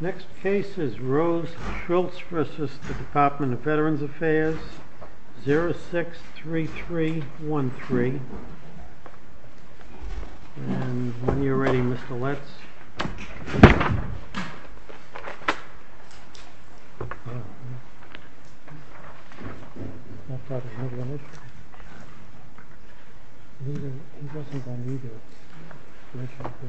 Next case is Rhodes v. Shultz for assist the Department of Veterans Affairs 063313 and when you're ready Mr. Letts There's bett she might say Good morning One bottle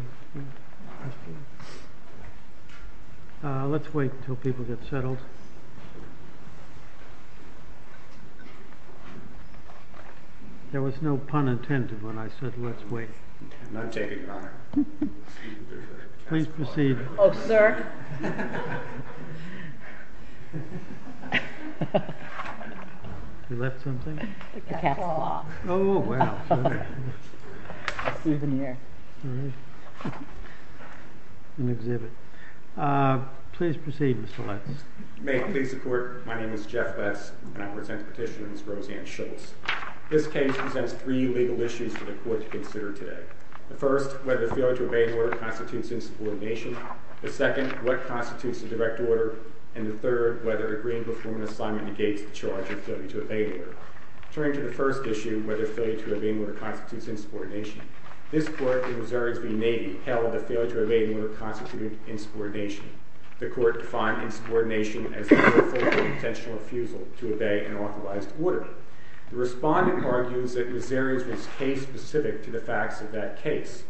ofwine Let's wait until people get settled There was no pun intended when I said let's wait I'm not taking your honor Please proceed Oh sir You left something? A capsule Oh wow An exhibit Please proceed Mr. Letts May it please the court My name is Jeff Letts and I present the petition to Ms. Roseanne Shultz This case presents three legal issues for the court to consider today The first, whether the failure to obey an order constitutes insubordination The second, what constitutes a direct order And the third, whether agreeing to perform an assignment negates the charge of failure to obey an order Turning to the first issue, whether failure to obey an order constitutes insubordination This court, the Missourians v. Navy, held that failure to obey an order constituted insubordination The court defined insubordination as a potential refusal to obey an authorized order The respondent argues that Missourians was case specific to the facts of that case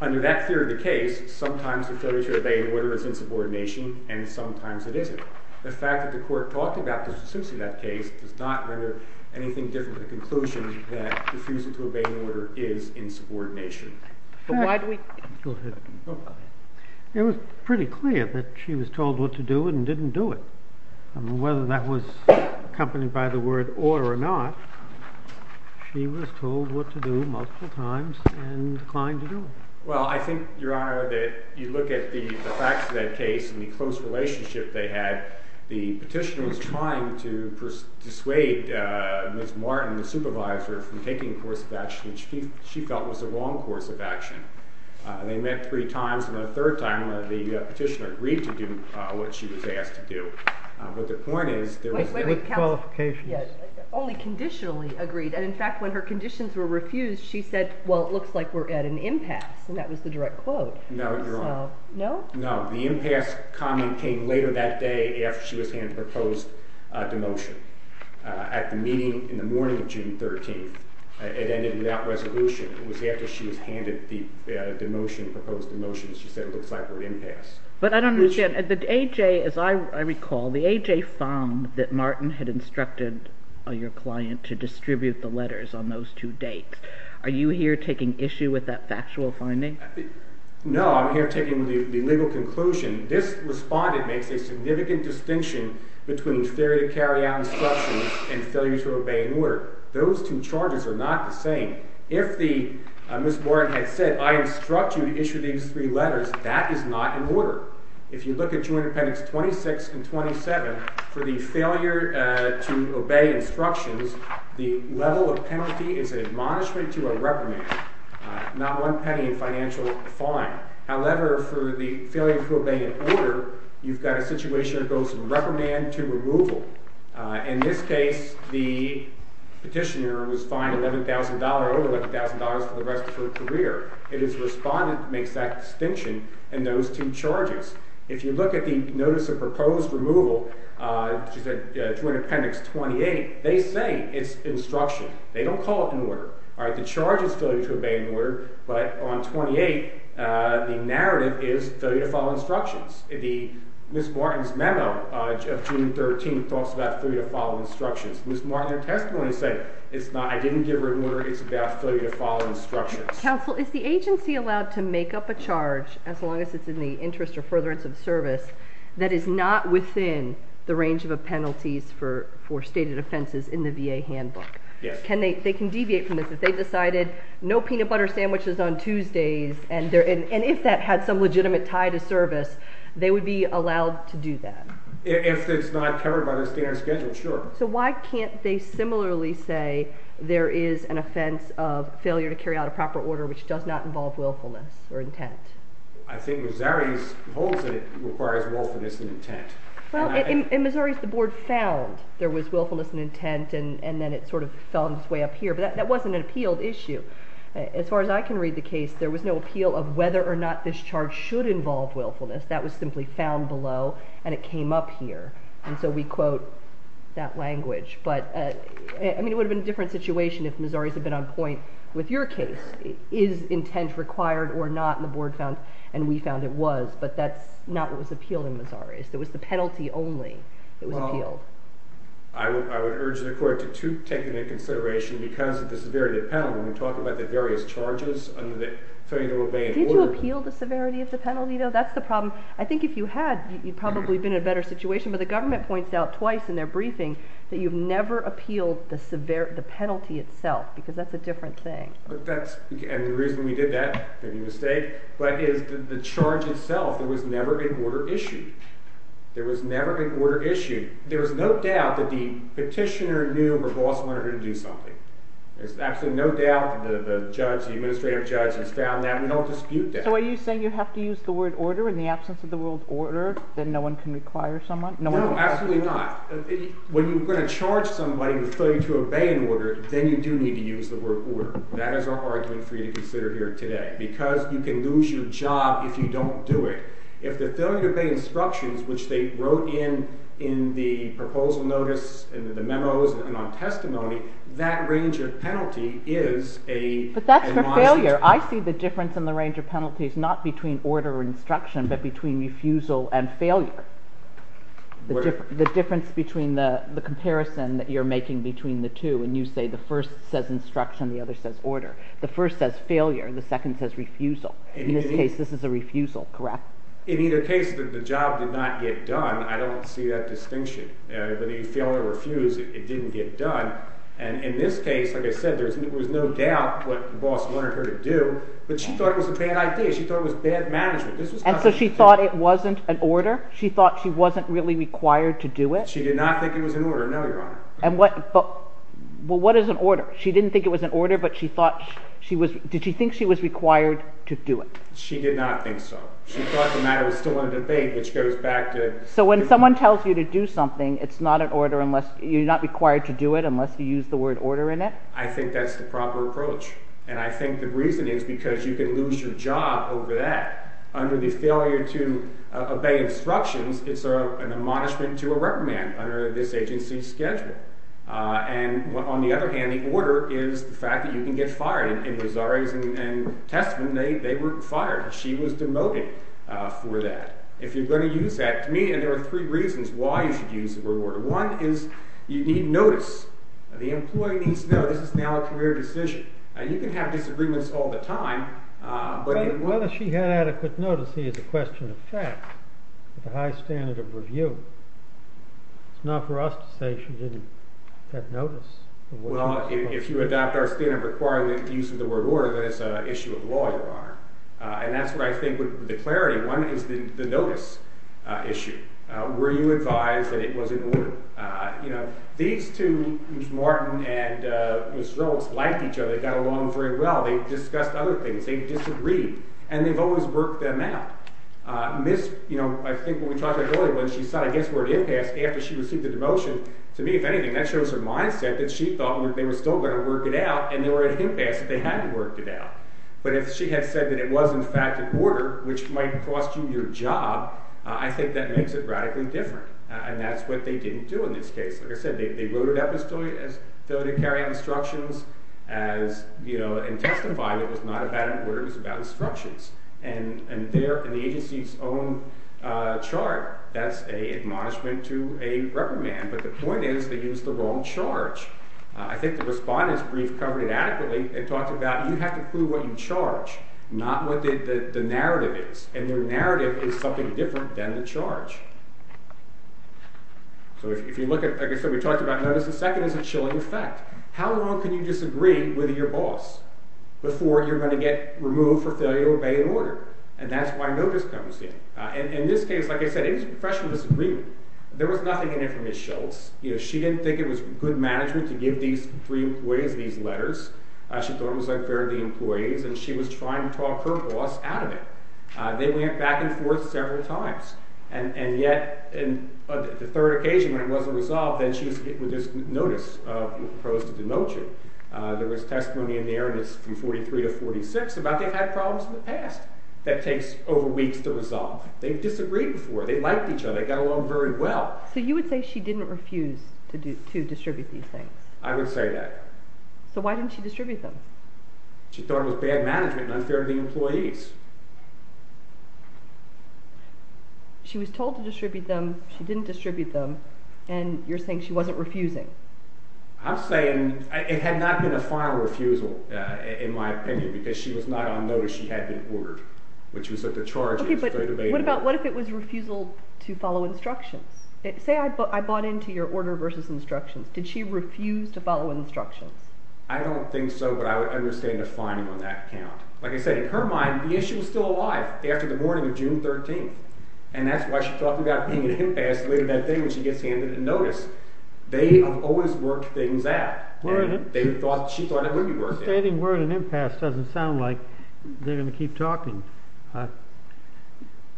Under that theory of the case, sometimes the failure to obey an order is insubordination And sometimes it isn't The fact that the court talked about the specifics of that case Does not render anything different to the conclusion that refusal to obey an order is insubordination But why do we Go ahead It was pretty clear that she was told what to do and didn't do it Whether that was accompanied by the word or or not She was told what to do multiple times and declined to do it Well, I think, your honor, that you look at the facts of that case And the close relationship they had The petitioner was trying to dissuade Ms. Martin, the supervisor, from taking a course of action Which she felt was the wrong course of action They met three times and the third time the petitioner agreed to do what she was asked to do But the point is With qualifications Only conditionally agreed And in fact, when her conditions were refused She said, well, it looks like we're at an impasse And that was the direct quote No, your honor No? No, the impasse comment came later that day After she was handed the proposed demotion At the meeting in the morning of June 13th It ended without resolution It was after she was handed the demotion, proposed demotion She said it looks like we're at an impasse But I don't understand The AJ, as I recall The AJ found that Martin had instructed your client to distribute the letters on those two dates Are you here taking issue with that factual finding? No, I'm here taking the legal conclusion This respondent makes a significant distinction Between failure to carry out instructions And failure to obey an order Those two charges are not the same If Ms. Martin had said I instruct you to issue these three letters That is not an order If you look at 2nd appendix 26 and 27 For the failure to obey instructions The level of penalty is an admonishment to a reprimand Not one penny in financial fine However, for the failure to obey an order You've got a situation that goes from reprimand to removal In this case, the petitioner was fined $11,000 Over $11,000 for the rest of her career It is the respondent that makes that distinction And those two charges If you look at the notice of proposed removal 2nd appendix 28 They say it's instruction They don't call it an order The charge is failure to obey an order But on 28, the narrative is failure to follow instructions Ms. Martin's memo of June 13th Talks about failure to follow instructions Ms. Martin in her testimony said I didn't give her an order It's about failure to follow instructions Counsel, is the agency allowed to make up a charge As long as it's in the interest or furtherance of service That is not within the range of penalties For stated offenses in the VA handbook? They can deviate from this If they decided no peanut butter sandwiches on Tuesdays And if that had some legitimate tie to service They would be allowed to do that? If it's not covered by the standard schedule, sure So why can't they similarly say There is an offense of failure to carry out a proper order Which does not involve willfulness or intent? I think Missouri holds that it requires willfulness and intent In Missouri, the board found there was willfulness and intent And then it sort of fell on its way up here But that wasn't an appealed issue As far as I can read the case There was no appeal of whether or not This charge should involve willfulness That was simply found below And it came up here And so we quote that language It would have been a different situation If Missouri had been on point with your case Is intent required or not? And the board found, and we found it was But that's not what was appealed in Missouri It was the penalty only that was appealed I would urge the court to take that into consideration Because of the severity of the penalty When we talk about the various charges Did you appeal the severity of the penalty though? That's the problem I think if you had You'd probably have been in a better situation But the government points out twice in their briefing That you've never appealed the penalty itself Because that's a different thing And the reason we did that, if I'm not mistaken But the charge itself There was never an order issued There was never an order issued There was no doubt that the petitioner Knew her boss wanted her to do something There's absolutely no doubt The judge, the administrative judge Has found that We don't dispute that So are you saying you have to use the word order In the absence of the word order That no one can require someone? No, absolutely not When you're going to charge somebody With failure to obey an order Then you do need to use the word order That is our argument For you to consider here today Because you can lose your job If you don't do it If the failure to obey instructions Which they wrote in In the proposal notice In the memos And on testimony That range of penalty is a But that's for failure I see the difference in the range of penalties Not between order or instruction But between refusal and failure The difference between The comparison that you're making Between the two When you say the first says instruction The other says order The first says failure The second says refusal In this case this is a refusal Correct? In either case The job did not get done I don't see that distinction Whether you fail or refuse It didn't get done And in this case Like I said There was no doubt What the boss wanted her to do But she thought it was a bad idea She thought it was bad management And so she thought it wasn't an order She thought she wasn't really required To do it She did not think it was an order No your honor And what Well what is an order? She didn't think it was an order But she thought She was Did she think she was required To do it? She did not think so She thought the matter Was still in debate Which goes back to So when someone tells you To do something It's not an order Unless You're not required to do it Unless you use the word order in it I think that's the proper approach And I think the reason is Because you can lose your job Over that Under the failure To obey instructions It's an admonishment To a reprimand Under this agency's schedule And on the other hand The order Is the fact That you can get fired In Rosario's and Testament They were fired She was demoted For that If you're going to use that To me And there are three reasons Why you should use The word order One is You need notice The employee needs to know This is now a career decision Now you can have Disagreements all the time But Whether she had adequate Notice Or whether The policy is a question Of fact With a high standard Of review It's not for us To say She didn't Have notice Well If you adopt Our standard Requiring the use Of the word order Then it's an issue Of law Your Honor And that's what I think The clarity One is The notice Issue Were you advised That it was in order You know These two Ms. Martin And Ms. Rose Almost liked each other They got along Very well They discussed Other things They disagreed And they've always Worked them out Ms. You know I think What we talked About earlier When she said I guess We're at impasse After she received The demotion To me If anything That shows her Mindset That she thought They were still Going to work it out And they were At impasse That they had To work it out But if she had said That it was In fact in order Which might Cost you your job I think That makes it Radically different And that's what They didn't do In this case Like I said They wrote it up As filial To carry out Instructions As you know And testified It was not about An order It was about Instructions And there In the agency's Own chart That's a Admonishment To a reprimand But the point is They used The wrong charge I think the Respondent's brief Covered it adequately And talked about You have to prove What you charge Not what the Narrative is And the narrative Is something Different than the charge So if you look at Like I said We talked about Notice of second As a chilling effect How long Can you disagree With your boss Before you're Going to get Removed for failure To obey an order And that's why Notice comes in In this case Like I said They were Fresh with Disagreement There was nothing In it from Ms. Schultz She didn't think It was good management To give these Three employees These letters She thought It was unfair To the employees And she was trying To talk her boss Out of it They went back And forth Several times And yet The third occasion When it wasn't Resolved Then she was With this notice Proposed to demote you There was testimony In there From 43 to 46 About they've had Problems in the past That takes Over weeks To resolve They've disagreed Before They liked each other They got along Very well So you would say She didn't refuse To distribute These things I would say that So why didn't She distribute them She thought It was bad management And unfair To the employees She was told To distribute them She didn't Distribute them And you're saying She wasn't refusing I'm saying It had not been A final refusal In my opinion Because she was Not on notice She had been ordered Which was at the Charge What if it was Refusal To follow instructions Say I bought Into your order Versus instructions Did she refuse To follow instructions I don't think so But I would understand A finding on that Count Like I said In her mind The issue was still alive After the morning Of June 13th And that's why She talked about Being an impasse Later that day When she gets handed A notice They have always Worked things out And they thought She thought It would be worth it Stating word An impasse Doesn't sound like They're going to Keep talking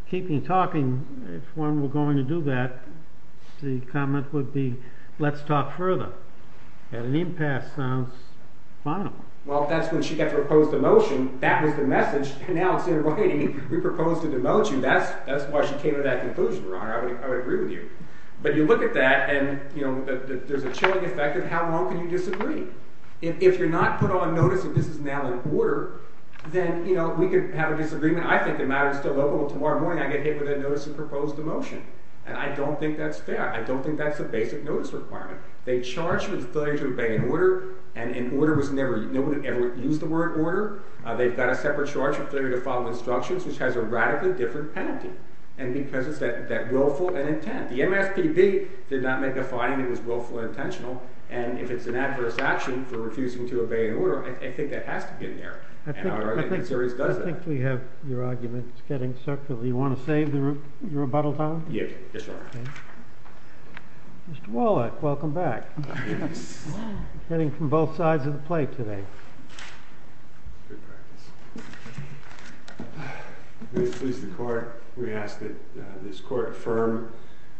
Keeping talking If one were Going to do that The comment Would be Let's talk further And an impasse Sounds final Well that's When she got Proposed a motion That was the message And now it's In writing We propose To demote you That's why she Came to that And you know There's a chilling Effect of How long Can you disagree If you're not Put on notice That this is Now in order Then you know We could have A disagreement I think the matter Is still open Well tomorrow morning I get hit with That notice And propose The motion And I don't think That's fair I don't think That's a basic Notice requirement They charge With failure To obey an order And an order Was never No one ever Used the word Order They've got a Separate charge With failure To follow instructions Which has a Radically different Penalty And because it's That willful And intent The MSPB Did not make A finding That was willful And intentional And if it's An adverse action For refusing To obey an order I think that Has to be in there And I think The series Does that I think we have Your argument Is getting Circular You want to Save Your rebuttal time Yes Mr. Wallach Welcome back Yes Heading from Both sides Of the plate Today Please Please The court We ask That this Court affirm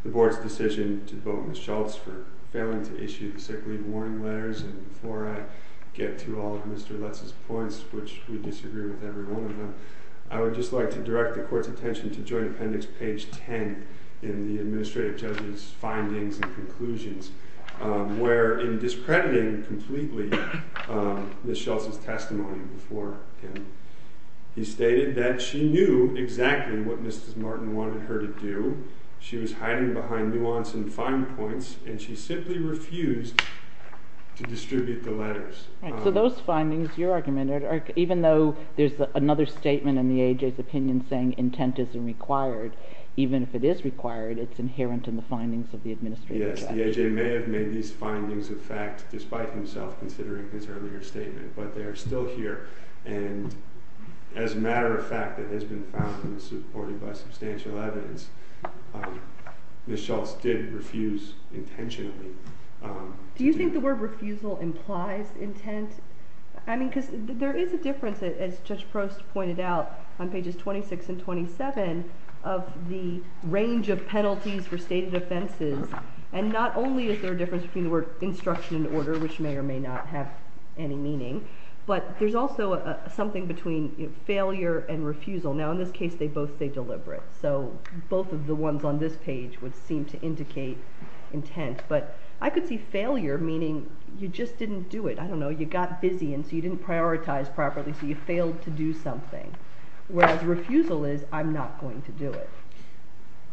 The board's Decision To vote Ms. Schultz For failing To issue The sick leave Warning letters And before I get To all Mr. Lutz's Points Which we disagree With every one of them I would just like To direct The court's Attention To joint Appendix page In the Administrative Judge's Findings And conclusions Where in Discrediting Completely Ms. Schultz's Testimony Before him He stated That she knew Exactly what Mrs. Martin Wanted her to do She was hiding Behind nuance And fine points And she simply Refused To distribute The letters Right So those findings Your argument Even though There's another statement In the A.J.'s opinion Saying intent Isn't required Even if it is required It's inherent In the findings Of the administrative judge Yes The A.J. May have made These findings A fact Despite himself Considering his Earlier statement But they are Still here And as a matter Of fact That has been Found and supported By substantial Evidence Ms. Schultz Did refuse Intentionally Do you think The word refusal Implies intent I mean Because there Is a difference As Judge Prost Pointed out On pages 26 and 27 Of the Range of penalties For stated offenses And not only Is there a difference Between the word Instruction and order Which may or may not Have any meaning But there's also Something between Failure And refusal Now in this case They both stay Deliberate So both of the ones On this page Would seem to indicate Intent But I could see Failure meaning You just didn't do it I don't know You got busy And so you didn't Prioritize properly So you failed To do something Whereas refusal Is I'm not going To do it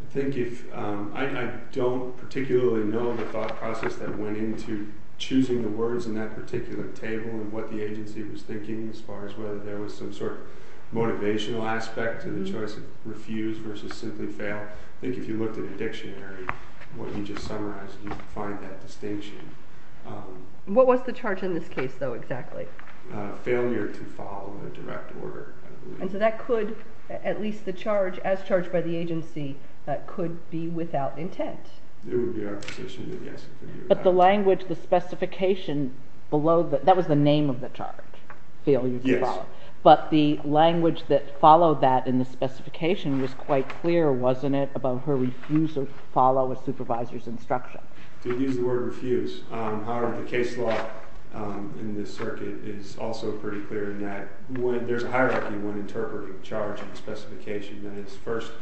I think if I don't particularly Know the thought Process that went Into choosing The words In that particular Table And what the agency Was thinking As far as Whether there was Some sort of Motivational aspect To the choice Of refuse Versus simply fail I think if you Looked in a dictionary What you just summarized You'd find that distinction What was the charge In this case though Exactly? Failure to follow A direct order And so that could At least the charge As charged by the agency That could be Without intent It would be Our position That yes it could be Without intent But the language The specification Below That was the name Of the charge Failure to follow Yes But the language That followed that In the specification Was quite clear Wasn't it About her refusal To follow A supervisor's instruction To use the word Refuse However the case law In this circuit Is also pretty clear In that There's a hierarchy When interpreting Charge and specification That is first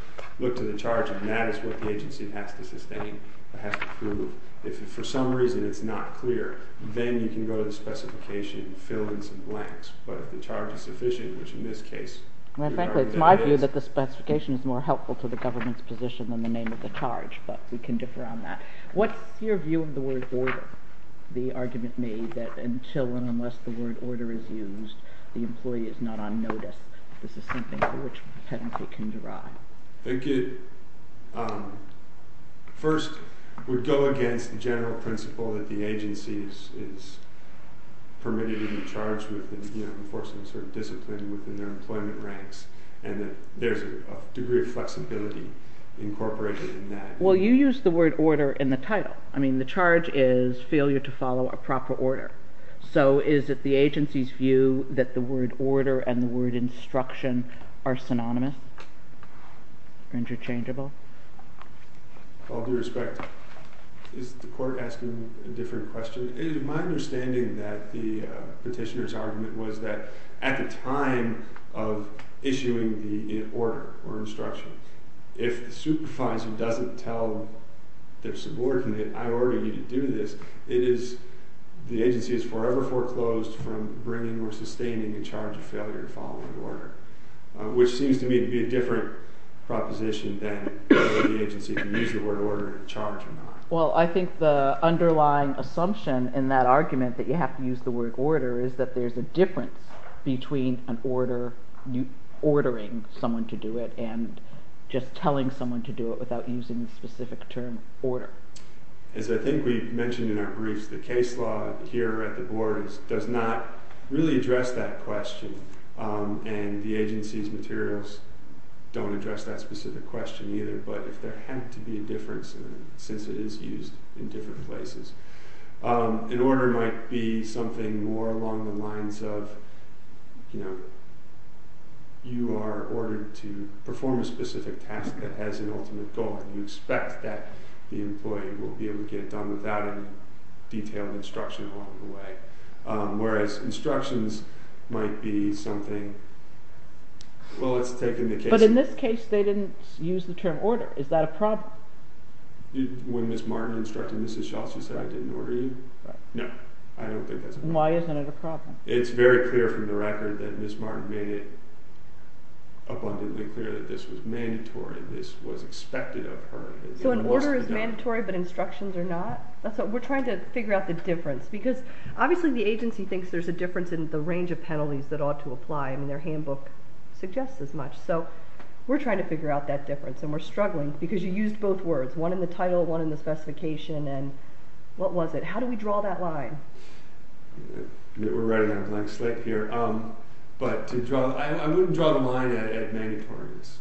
Look to the charge And that is What the agency Has to sustain Has to prove If for some reason It's not clear Then you can go To the specification Fill in some blanks But if the charge Is sufficient Which in this case Well frankly It's my view That the specification Is more helpful To the government's Position than the name Of the charge But we can differ on that What's your view Of the word order The argument made That until And unless The word order Is used The employee Is not on notice This is something For which penalty Can derive I think it First Would go against The general principle That the agency Is permitted To be charged With enforcing A certain discipline Within their employment Ranks And that There's a degree Of flexibility Incorporated in that Well you use The word order In the title I mean the charge To follow a proper order So is it The agency's view That the word order And the word instruction Are synonymous Or interchangeable Well with respect To that I think Is the court Asking A different question My understanding That the Petitioner's argument Was that At the time Of issuing The order Or instruction If the supervisor Doesn't tell Their subordinate I order you To do this It is The agency Is forever Foreclosed From bringing Or sustaining The charge Of failure To follow an order Which seems to me To be a different Proposition than The agency So the question Is if you use The word order To charge or not Well I think The underlying Assumption In that argument That you have to Use the word order Is that there's A difference Between an order Ordering someone To do it And just telling Someone to do it Without using The specific term Order As I think We mentioned In our briefs The case law Here at the board Does not Really address That question And the agency's Don't address That specific question Either but If there had To be a difference Since it is Used in different places An order Might be Something more Along the lines Of You know You are Ordered to Perform a specific Task that has An ultimate goal And you expect That the employee Will be able To get it done Without any Detailed instruction Along the way Whereas Instructions Might be Something Well It's taken The case But in this case They didn't Use the term Order Is that a problem When Ms. Martin Instructed Mrs. Schall She said I didn't order you No I don't think That's a problem Why isn't it A problem It's very clear From the record That Ms. Martin Made it abundantly Clear that this Was mandatory This was expected Of her So an order Is mandatory But instructions Are not That's what We're trying To figure out The difference Because obviously The agency thinks There's a difference In the range Of penalties That ought to apply I mean their handbook Suggests as much So we're trying To figure out That difference And we're struggling Because you used Both words One in the title One in the specification And what was it How do we draw That line We're running On a blank slate Here But to draw I wouldn't draw The line At mandatoriness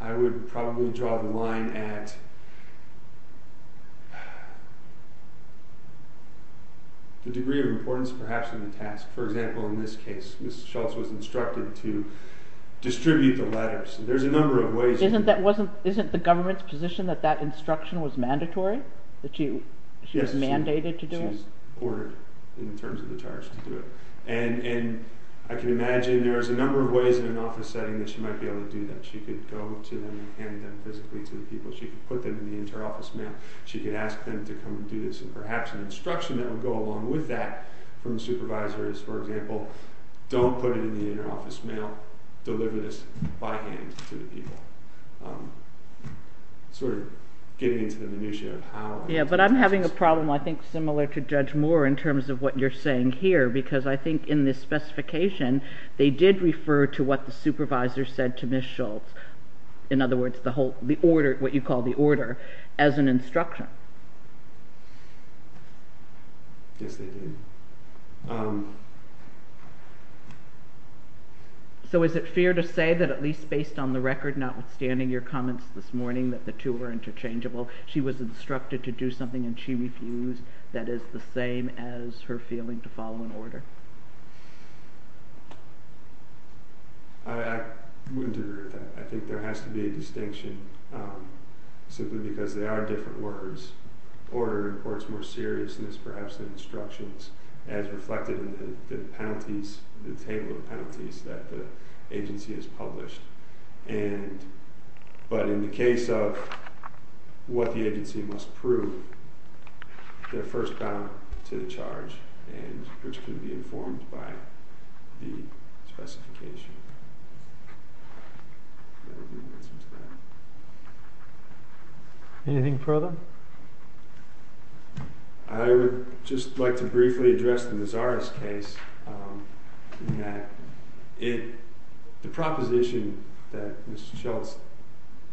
I would probably Draw the line At The degree of importance Perhaps in the task For example In this case Ms. Schultz Was instructed To distribute The letters There's a number Of ways Isn't that The government's Position that That instruction Was mandatory That she was Mandated to do it She was ordered In terms of the charge To do it And I can imagine There's a number Of ways In an office setting That she might be able To do that She could go To them And hand them Physically to the people She could put them In the interoffice mail She could ask them To come and do this And perhaps An instruction That would go along With that From the supervisor Is for example Don't put it In the interoffice mail Deliver this By hand To the people Sort of Getting into the minutia Of how Yeah but I'm having A problem I think similar To Judge Moore In terms of What you're saying here Because I think In this specification They did refer To what the supervisor Said to Ms. Schultz In other words The whole The order What you call The order As an instruction Yes they did So is it fair To say that At least based On the record Notwithstanding Your comments This morning That the two Were interchangeable She was instructed To do Something And she refused That is the same As her feeling To follow an order I wouldn't agree With that I think there Has to be A distinction Simply because They are different words Order reports More seriousness As reflected In the penalties The table of penalties That the agency Has published And But in the case Of what the agency Must prove I think It's important To say That the agency Must prove Their first bound To the charge And Which could be Informed by The specification Anything further I would Just like to Briefly address The Nazaris case The proposition That Ms. Schultz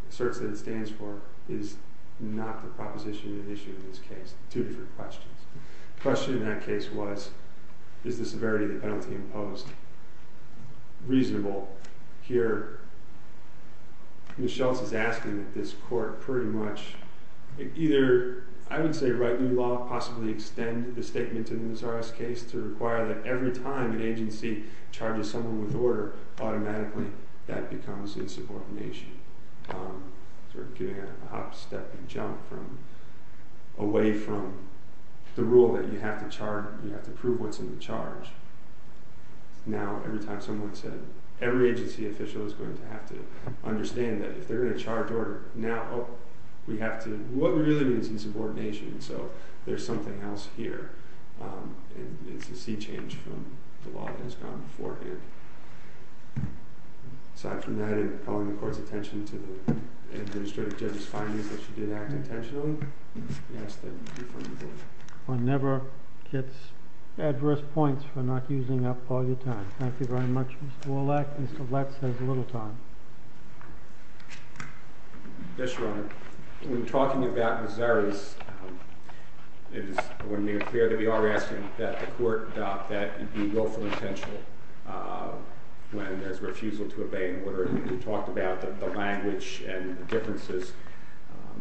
Asserts that It stands for Is not A proposition An issue In this case Two different questions The question In that case was Is the severity Of the penalty Imposed Reasonable Here Ms. Schultz Is asking That this court Pretty much Either I would say Write new law Possibly extend The statement In the Nazaris case To require That every time An agency Charges someone With order Automatically That becomes Insubordination Sort of Getting A hop, step And jump Away from The rule That you have To prove What's in the charge Now Every time Someone said Every agency Official is going To have to Understand That if they're In a charge Order Now We have to What really Is insubordination So there's Something else Here And it's A sea change From the law That has gone Beforehand Aside from that And calling The court's attention To the Administrative Judge's findings That she did Act intentionally We ask that You confirm your vote One never Gets Adverse points For not using up All your time Thank you very much Mr. Wallack Mr. Letts Has a little time Yes, Your Honor When talking About Nazaris It is When they appear To be already Asking That the court Adopt that And be willful Intentional When there's Refusal To obey An order You talked About the Language And the Differences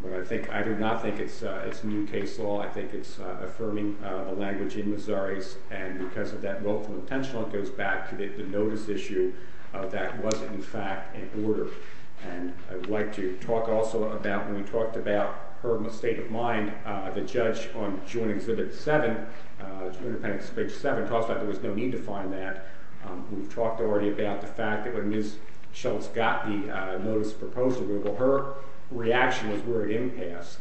But I think I do not Think it's A new case Law I think It's Affirming The language In Nazaris And because Of that Willful Intentional It goes back To the Notice Issue That was In fact An order And I would like To talk Also about When we talked About her State of mind The judge On joint Exhibit Seven Talks about There was no Need to find That We've talked Already about The fact That when Ms. Schultz Got the Notice Proposal Her reaction Was we're Going to Have a Game pass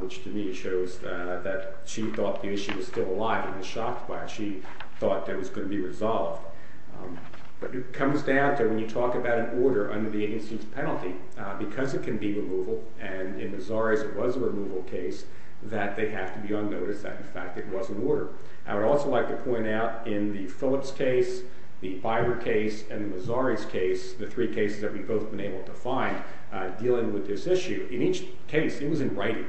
Which to me Shows that She thought The issue Was still alive And was shocked By it She thought It was Going to be Resolved But it Comes down To when you Talk about An order Under the Agency's Penalty Because it Can be Removal And in Nazaris It was A removal Case It was in Writing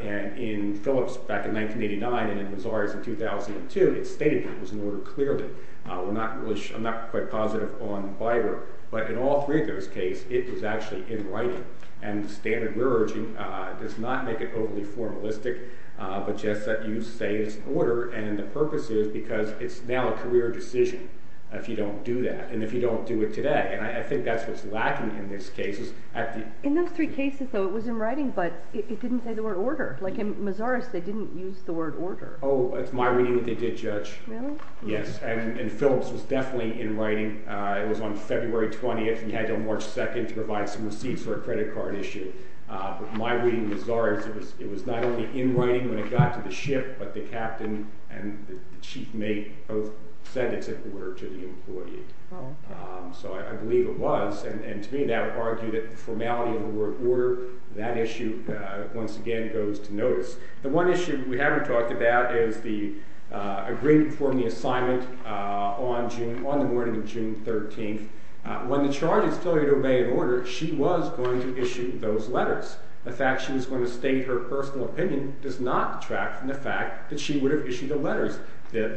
And in Phillips Back in 1989 And in Nazaris In 2002 It stated It was an Order Clearly I'm not Quite positive On Biber But in All three Of those Cases It was Actually in Writing And the Standard Reroging Does not Make it Overly In those three Cases though It was in Writing but It didn't Say the word Order Like in Nazaris They didn't Use the word Order Oh it's My reading They did Judge Really Yes and Phillips Was definitely In writing It was on February 20th And had Until March 2nd To provide Some receipts For a credit Card issue But my reading Of Nazaris It was not only In writing When it got To the ship But the Captain And the Chief mate Both said It's an Order To the Employee So I Believe it Was and To me That argued Formality Of the Word Order That issue Once again Goes to notice The one issue We haven't talked About is the Agreement For the Assignment On the morning Of June 13th When the Charge is Failure to Obey an Order She was Going to Issue those Letters The fact She was Going to State her Personal opinion Does not Detract from The fact That she Would have Issued the Order On the morning Of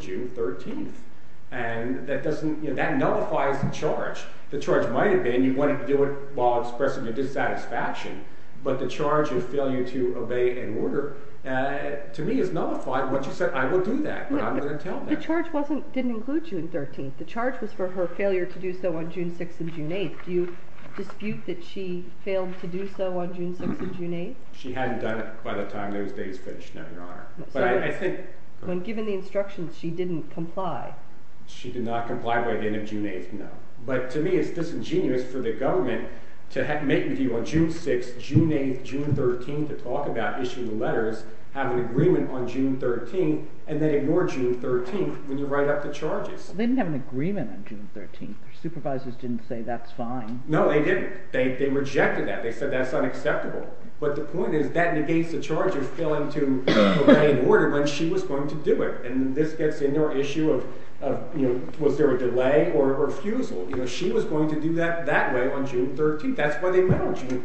June 13th And that Nullifies the Charge While Expressing Dissatisfaction But The charge To fail To obey An order To me Is nullified When she Said I Will do That But I'm going to tell them The charge Didn't include June 13th The charge Was for her Failure to do so On June 6th And June 8th Do you Dispute that she Failed to do so On June 6th And June 8th She hadn't done it Days finished No, your Honor But I Think When given The instructions She didn't Comply She did Not comply By the end Of June 8th No But to me It's disingenuous For the government To make With you On June 6th June 8th June 13th To talk About issuing Letters Have an Agreement On June 13th And then Ignore June 13th When you Write up The charges They didn't Have an Agreement On June 13th Their supervisors Didn't say That's fine No, they Didn't They rejected That They said That's Unacceptable But the point Is that Negates the Charge of Failing to Obey An order When she Was going To do it And this Gets in Your issue Of was There a delay Or refusal She was Going to do That that Way on June 13th And that's Why They still Need to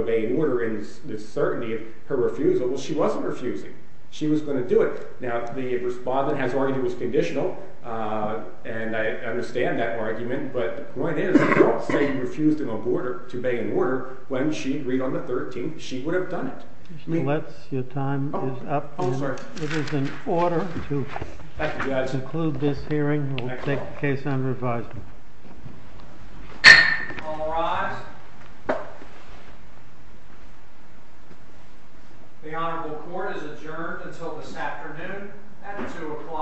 Obey An order In Certainty Of her Refusal Well she Wasn't Refusing She was Going to Do it Now the Respondent Has already Conditional And I Understand That argument But the Point is They Refused To obey An order When she Agreed on The 13th She would Have done It Your time Is up It is in Order to Conclude this Hearing We'll take The case On Revisal All rise The honorable Court is adjourned Until this Afternoon At 2